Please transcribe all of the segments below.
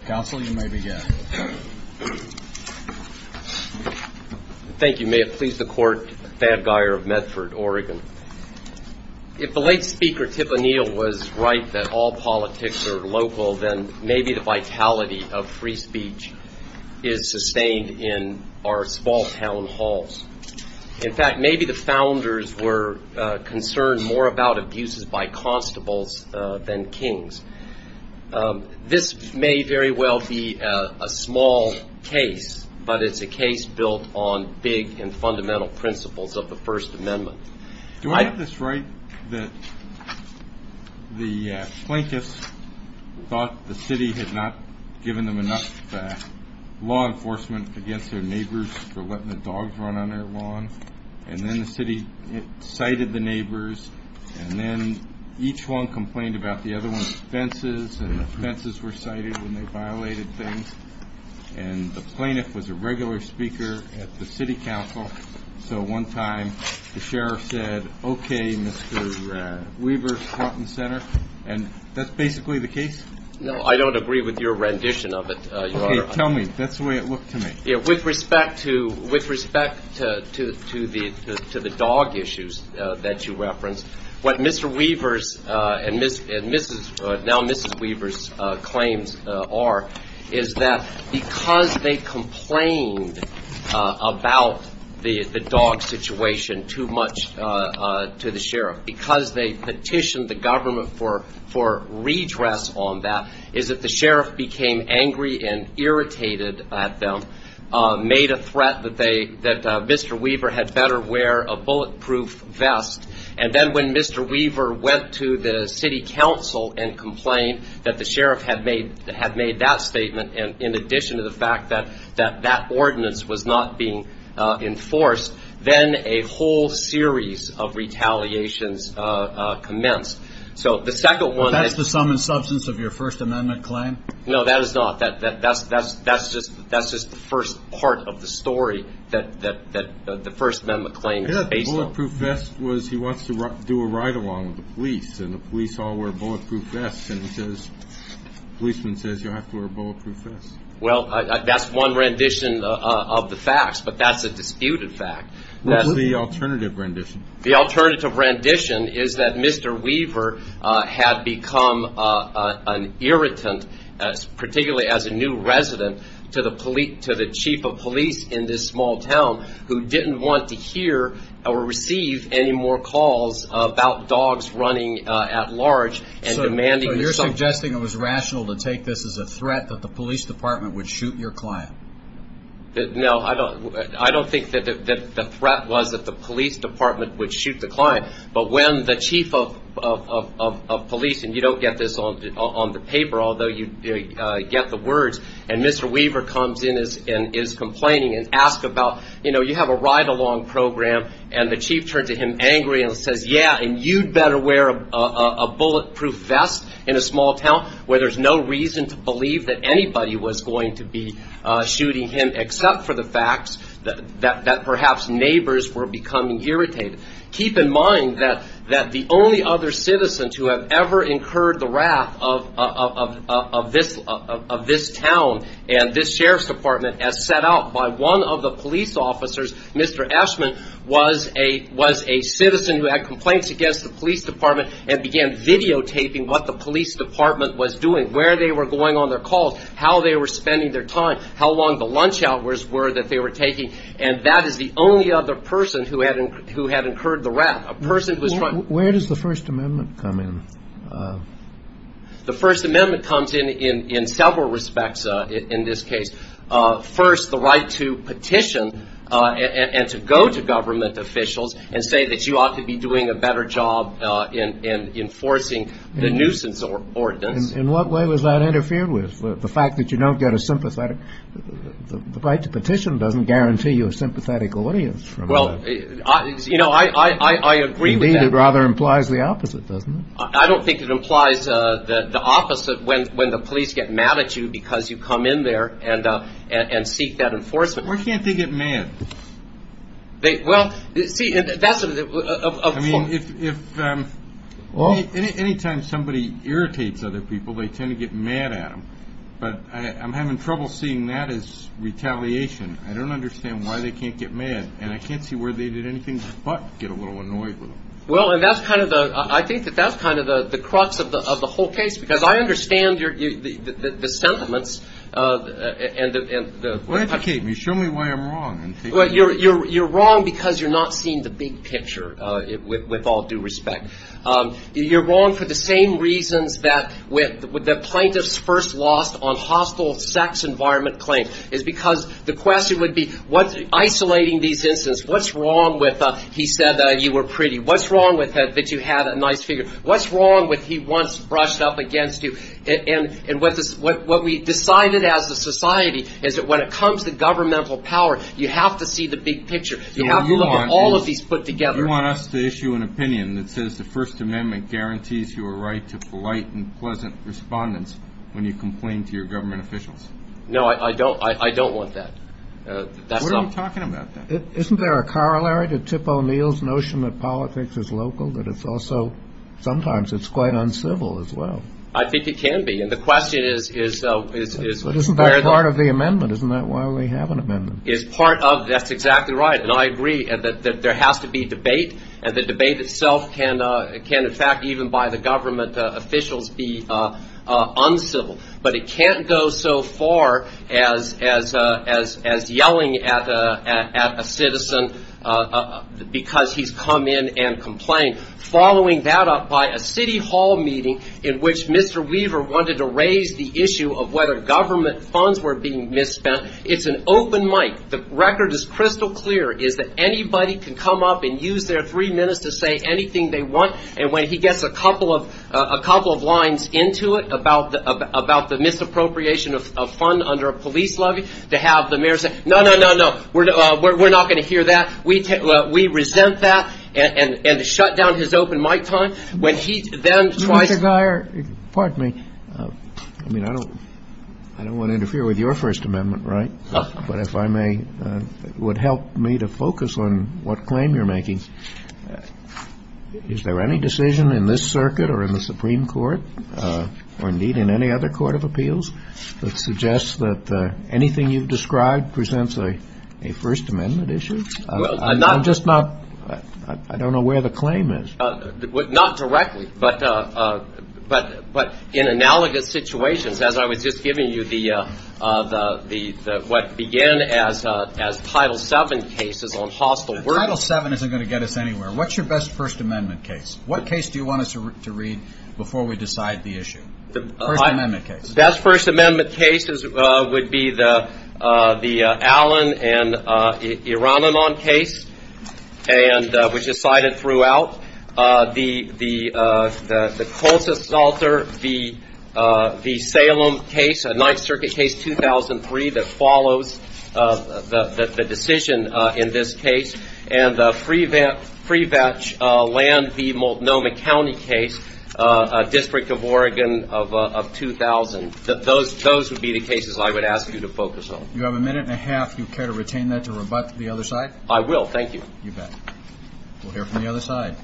If the late Speaker Tip O'Neill was right that all politics are local, then maybe the vitality of free speech is sustained in our small town halls. In fact, maybe the founders were concerned more about abuses by constables than kings. This may very well be a small case, but it's a case built on big and fundamental principles of the First Amendment. Do I get this right that the Plaintiffs thought the city had not given them enough law enforcement against their neighbors for letting the dogs run on their lawn, and then the city cited the neighbors, and then each one complained about the other one's offenses, and offenses were cited when they violated things. The Plaintiff was a regular speaker at the City Council, so one time the Sheriff said, OK, Mr. Weaver, front and center, and that's basically the case? No, I don't agree with your rendition of it, Your Honor. OK, tell me. That's the way it looked to me. With respect to the dog issues that you referenced, what Mr. Weaver's and now Mrs. Weaver's claims are is that because they complained about the dog situation too much to the Sheriff, because they petitioned the government for redress on that, is that the Sheriff became angry and irritated at them, made a threat that Mr. Weaver had better wear a bulletproof vest, and then when Mr. Weaver went to the City Council and complained that the Sheriff had made that statement, and in addition to the fact that that ordinance was not being enforced, then a whole series of retaliations commenced. So the second one is... Well, that's the sum and substance of your First Amendment claim? No, that is not. That's just the first part of the story that the First Amendment claim is based on. The bulletproof vest was he wants to do a ride-along with the police, and the police all wear bulletproof vests, and the policeman says you have to wear a bulletproof vest. Well, that's one rendition of the facts, but that's a disputed fact. What's the alternative rendition? The alternative rendition is that Mr. Weaver had become an irritant, particularly as a new resident, to the chief of police in this small town, who didn't want to hear or receive any more calls about dogs running at large and demanding... So you're suggesting it was rational to take this as a threat that the police department would shoot your client? No, I don't think that the threat was that the police department would shoot the client, but when the chief of police, and you don't get this on the paper, although you get the words, and Mr. Weaver comes in and is complaining and asks about, you know, you have a ride-along program, and the chief turns to him angry and says, yeah, and you'd better wear a bulletproof vest in a small town where there's no reason to believe that anybody was going to be shooting him except for the fact that perhaps neighbors were becoming irritated. Keep in mind that the only other citizens who have ever incurred the wrath of this town and this sheriff's department as set out by one of the police officers, Mr. Eshman, was a citizen who had complaints against the police department and began videotaping what the police department was doing, where they were going on their calls, how they were spending their time, how long the lunch hours were that they were taking, and that is the only other person who had incurred the wrath, a person who was trying... Where does the First Amendment come in? The First Amendment comes in in several respects in this case. First, the right to petition and to go to government officials and say that you ought to be doing a better job in enforcing the nuisance ordinance. In what way was that interfered with? The fact that you don't get a sympathetic... The right to petition doesn't guarantee you a sympathetic audience. Well, you know, I agree with that. It rather implies the opposite, doesn't it? I don't think it implies the opposite. When the police get mad at you because you come in there and seek that enforcement... Why can't they get mad? Well, see, that's a... I mean, any time somebody irritates other people, they tend to get mad at them, but I'm having trouble seeing that as retaliation. I don't understand why they can't get mad, and I can't see where they did anything but get a little annoyed with them. Well, and that's kind of the... Because I understand the sentiments and the... Educate me. Show me why I'm wrong. Well, you're wrong because you're not seeing the big picture, with all due respect. You're wrong for the same reasons that the plaintiffs first lost on hostile sex environment claims, is because the question would be, isolating these incidents, what's wrong with he said that you were pretty? What's wrong with that you had a nice figure? What's wrong with he once brushed up against you? And what we decided as a society is that when it comes to governmental power, you have to see the big picture. You have to look at all of these put together. You want us to issue an opinion that says the First Amendment guarantees your right to polite and pleasant respondence when you complain to your government officials? No, I don't want that. That's not... What are you talking about then? Isn't there a corollary to Tip O'Neill's notion that politics is local? That it's also... Sometimes it's quite uncivil as well. I think it can be. And the question is... But isn't that part of the amendment? Isn't that why we have an amendment? Is part of... That's exactly right. And I agree that there has to be debate. And the debate itself can in fact even by the government officials be uncivil. But it can't go so far as yelling at a citizen because he's come in and complained. Following that up by a city hall meeting in which Mr. Weaver wanted to raise the issue of whether government funds were being misspent. It's an open mic. The record is crystal clear. Anybody can come up and use their three minutes to say anything they want. And when he gets a couple of lines into it about the misappropriation of fund under a police levy to have the mayor say, No, no, no, no. We're not going to hear that. We resent that. And shut down his open mic time. When he then tries... Mr. Geyer, pardon me. I mean, I don't want to interfere with your First Amendment, right? But if I may... It would help me to focus on what claim you're making. Is there any decision in this circuit or in the Supreme Court or indeed in any other court of appeals that suggests that anything you've described presents a First Amendment issue? I'm just not... I don't know where the claim is. Not directly. But in analogous situations, as I was just giving you what began as Title VII cases on hostile workers... Title VII isn't going to get us anywhere. What's your best First Amendment case? What case do you want us to read before we decide the issue? First Amendment case. Best First Amendment case would be the Allen and Iranomon case which is cited throughout. The Colza-Salter v. Salem case, Ninth Circuit case 2003 that follows the decision in this case and the Freevetch v. Multnomah County case, District of Oregon of 2000. Those would be the cases I would ask you to focus on. You have a minute and a half. Do you care to retain that to rebut the other side? I will. Thank you. You bet. We'll hear from the other side.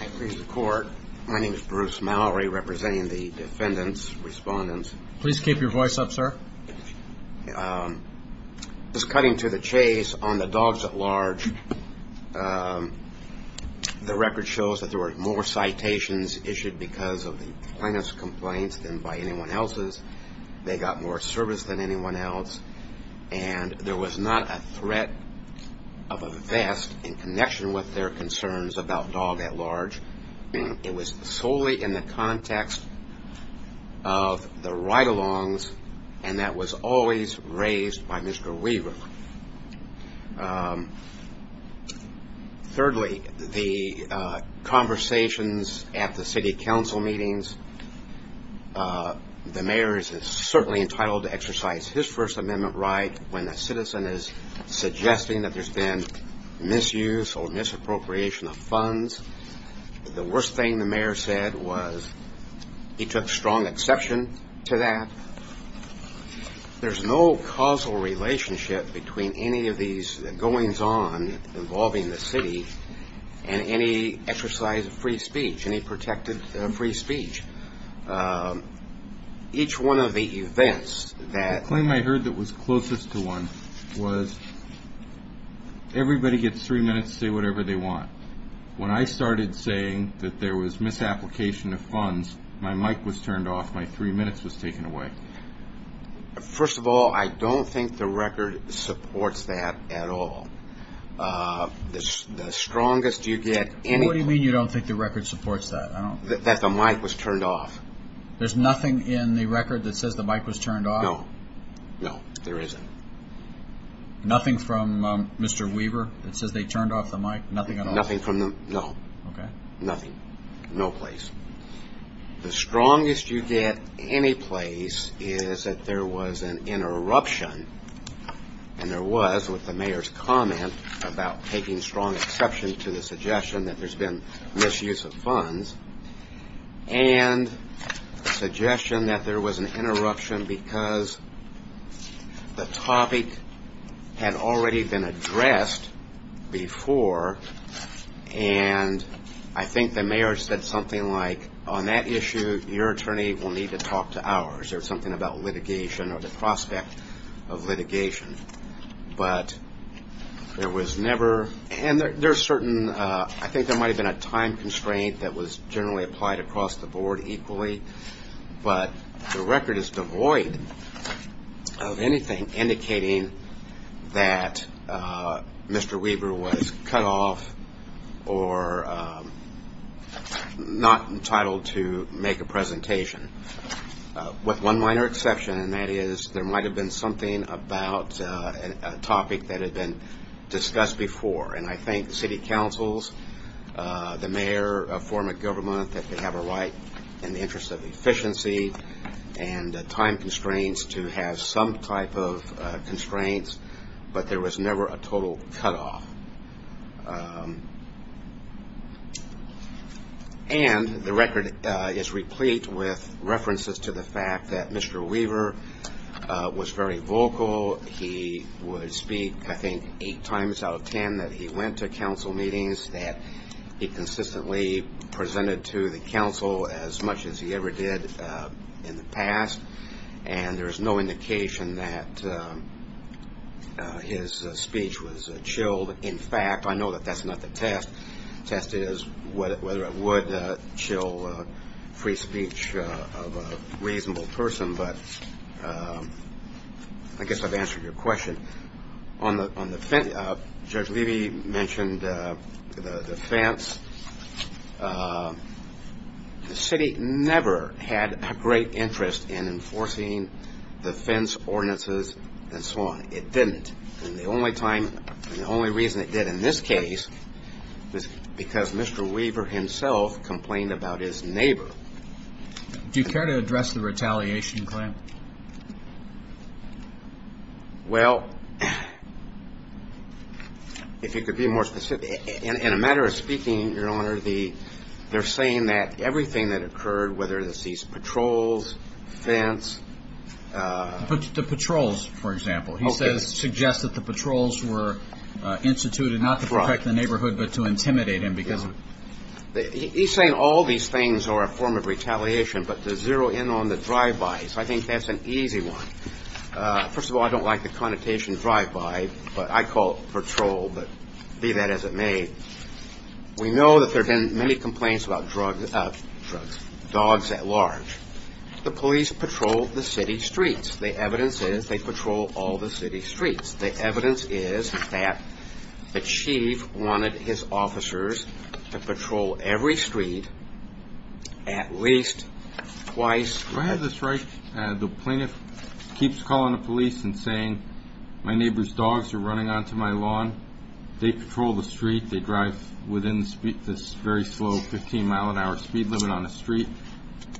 I praise the Court. My name is Bruce Mallory representing the defendants, respondents. Please keep your voice up, sir. Just cutting to the chase, on the dogs at large the record shows that there were more citations issued because of the plaintiff's complaints than by anyone else's. They got more service than anyone else. And there was not a threat of a vest in connection with their concerns about dog at large. It was solely in the context of the ride-alongs and that was always raised by Mr. Weaver. Thirdly, the conversations at the city council meetings the mayor is certainly entitled to exercise his First Amendment right when a citizen is suggesting that there's been misuse or misappropriation of funds. The worst thing the mayor said was he took strong exception to that. There's no causal relationship between any of these goings-on involving the city and any exercise of free speech any protected free speech. Each one of the events that The claim I heard that was closest to one was everybody gets three minutes to say whatever they want. When I started saying that there was misapplication of funds my mic was turned off, my three minutes was taken away. First of all, I don't think the record supports that at all. The strongest you get... What do you mean you don't think the record supports that? That the mic was turned off. There's nothing in the record that says the mic was turned off? No. No, there isn't. Nothing from Mr. Weaver that says they turned off the mic? Nothing at all? Nothing from them, no. Okay. Nothing. No place. The strongest you get any place is that there was an interruption and there was with the mayor's comment about taking strong exception to the suggestion that there's been misuse of funds and the suggestion that there was an interruption because the topic had already been addressed before and I think the mayor said something like on that issue your attorney will need to talk to ours or something about litigation or the prospect of litigation but there was never... and there's certain... that was generally applied across the board equally but the record is devoid of anything indicating that Mr. Weaver was cut off or not entitled to make a presentation with one minor exception and that is there might have been something about a topic that had been discussed before and I think city councils the mayor formed a government that could have a right in the interest of efficiency and time constraints to have some type of constraints but there was never a total cut off and the record is replete with references to the fact that Mr. Weaver was very vocal he would speak I think eight times out of ten that he went to council meetings that he consistently presented to the council as much as he ever did in the past and there's no indication that his speech was chilled in fact I know that that's not the test the test is whether it would chill free speech of a reasonable person but I guess I've answered your question Judge Levy mentioned the fence the city never had a great interest in enforcing the fence ordinances and so on it didn't and the only reason it did in this case was because Mr. Weaver himself complained about his neighbor Do you care to address the retaliation claim? Well if you could be more specific in a matter of speaking your honor they're saying that everything that occurred whether it's these patrols, fence The patrols for example he suggests that the patrols were instituted not to protect the neighborhood but to intimidate him He's saying all these things are a form of retaliation but to zero in on the drive-bys I think that's an easy one first of all I don't like the connotation drive-by but I call it patrol be that as it may we know that there have been many complaints about dogs at large the police patrol the city streets the evidence is they patrol all the city streets the evidence is that the chief wanted his officers to patrol every street at least twice Do I have this right the plaintiff keeps calling the police and saying my neighbor's dogs are running onto my lawn they patrol the street they drive within this very slow 15 mile an hour speed limit on the street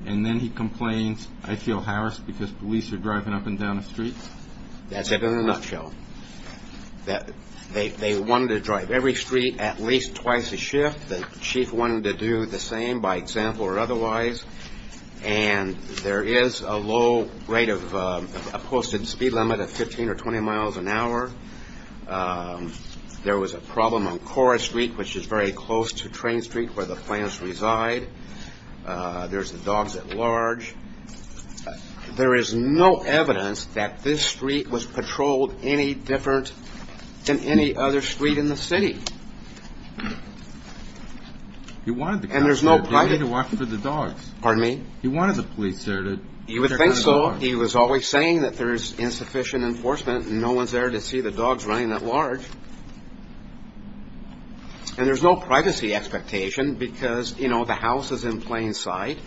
and then he complains I feel harassed because police are driving up and down the street That's it in a nutshell they wanted to drive every street at least twice a shift the chief wanted to do the same by example or otherwise and there is a low rate of a posted speed limit of 15 or 20 miles an hour there was a problem on Cora Street which is very close to Train Street where the plaintiffs reside there's the dogs at large there is no evidence that this street was patrolled any different than any other street in the city you wanted the cops to watch for the dogs pardon me you wanted the police there he would think so he was always saying that there's insufficient enforcement and no one's there to see the dogs running at large and there's no privacy expectation because you know the house is in plain sight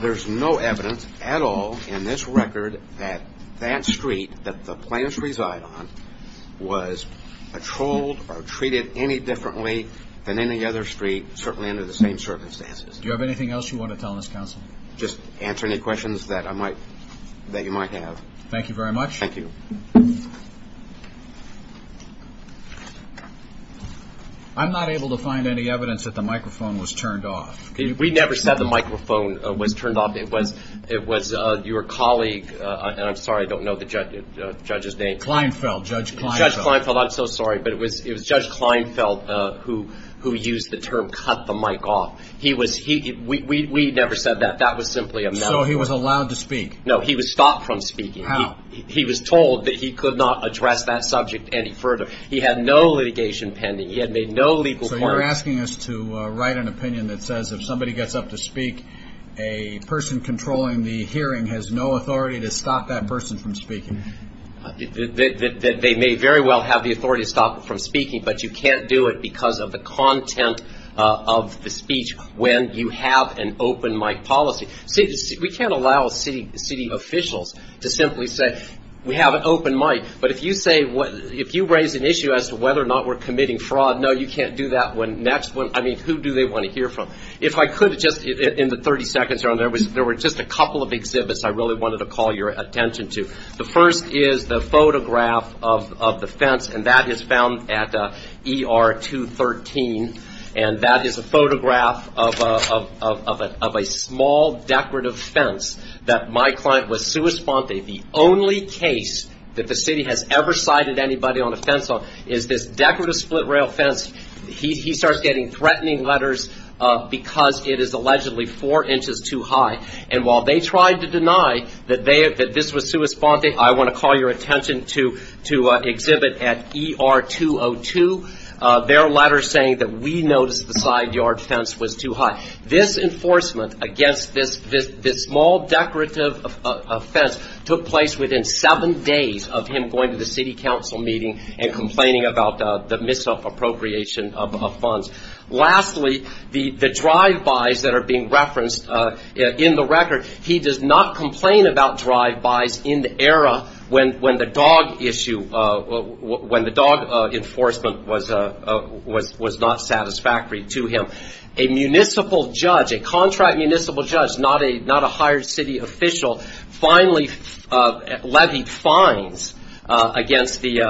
there's no evidence at all in this record that that street that the plaintiffs reside on was patrolled or treated any differently than any other street certainly under the same circumstances do you have anything else you want to tell us counsel just answer any questions that I might that you might have thank you very much thank you I'm not able to find any evidence that the microphone was turned off we never said the microphone was turned off it was it was your colleague and I'm sorry I don't know the judge's name Kleinfeld Judge Kleinfeld I'm so sorry but it was it was Judge Kleinfeld who who used the term cut the mic off he was we never said that that was simply a mouthful so he was allowed to speak no he was stopped from speaking how he was told that he could not address that subject any further he had no litigation pending he had made no legal so you're asking us to write an opinion that says if somebody gets up to speak a person controlling the hearing has no authority to stop that person from speaking that they may very well have the authority to stop them from speaking but you can't do it because of the content of the speech when you have an open mic policy we can't allow city officials to simply say we have an open mic but if you say if you raise an issue as to whether or not we're committing fraud no you can't do that when next when I mean who do they want to hear from if I could just in the 30 seconds there were just a couple of exhibits I really wanted to call your attention to the first is the photograph of the fence and that is found at ER 213 and that is a photograph of a small decorative fence that my client was suespante the only case that the city has ever cited anybody on a fence is this decorative split rail fence he starts getting threatening letters because it is allegedly four inches too high and while they tried to deny that this was suespante I want to call your attention to exhibit at ER 202 their letters saying that we noticed the side yard fence was too high this enforcement against this small decorative fence took place within seven days of him going to the ER and actually the drive-bys that are being referenced in the record he does not complain about drive-bys in the era when the dog issue when the dog enforcement was not satisfactory to him a municipal judge a contract municipal judge not a hired city official finally levied fines against the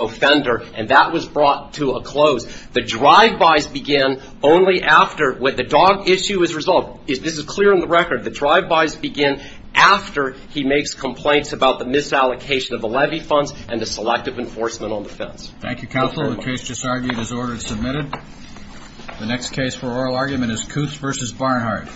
offender and that was brought to a close the drive-bys began only after when the dog issue was resolved this is clear in the record the drive-bys began after he makes complaints about the misallocation of the levy funds and the selective enforcement on the fence thank you counsel the case just argued is ordered submitted the next case for oral argument is Kutz vs. Barnhart 3 0 0 0 0 0 0 0 0 0 0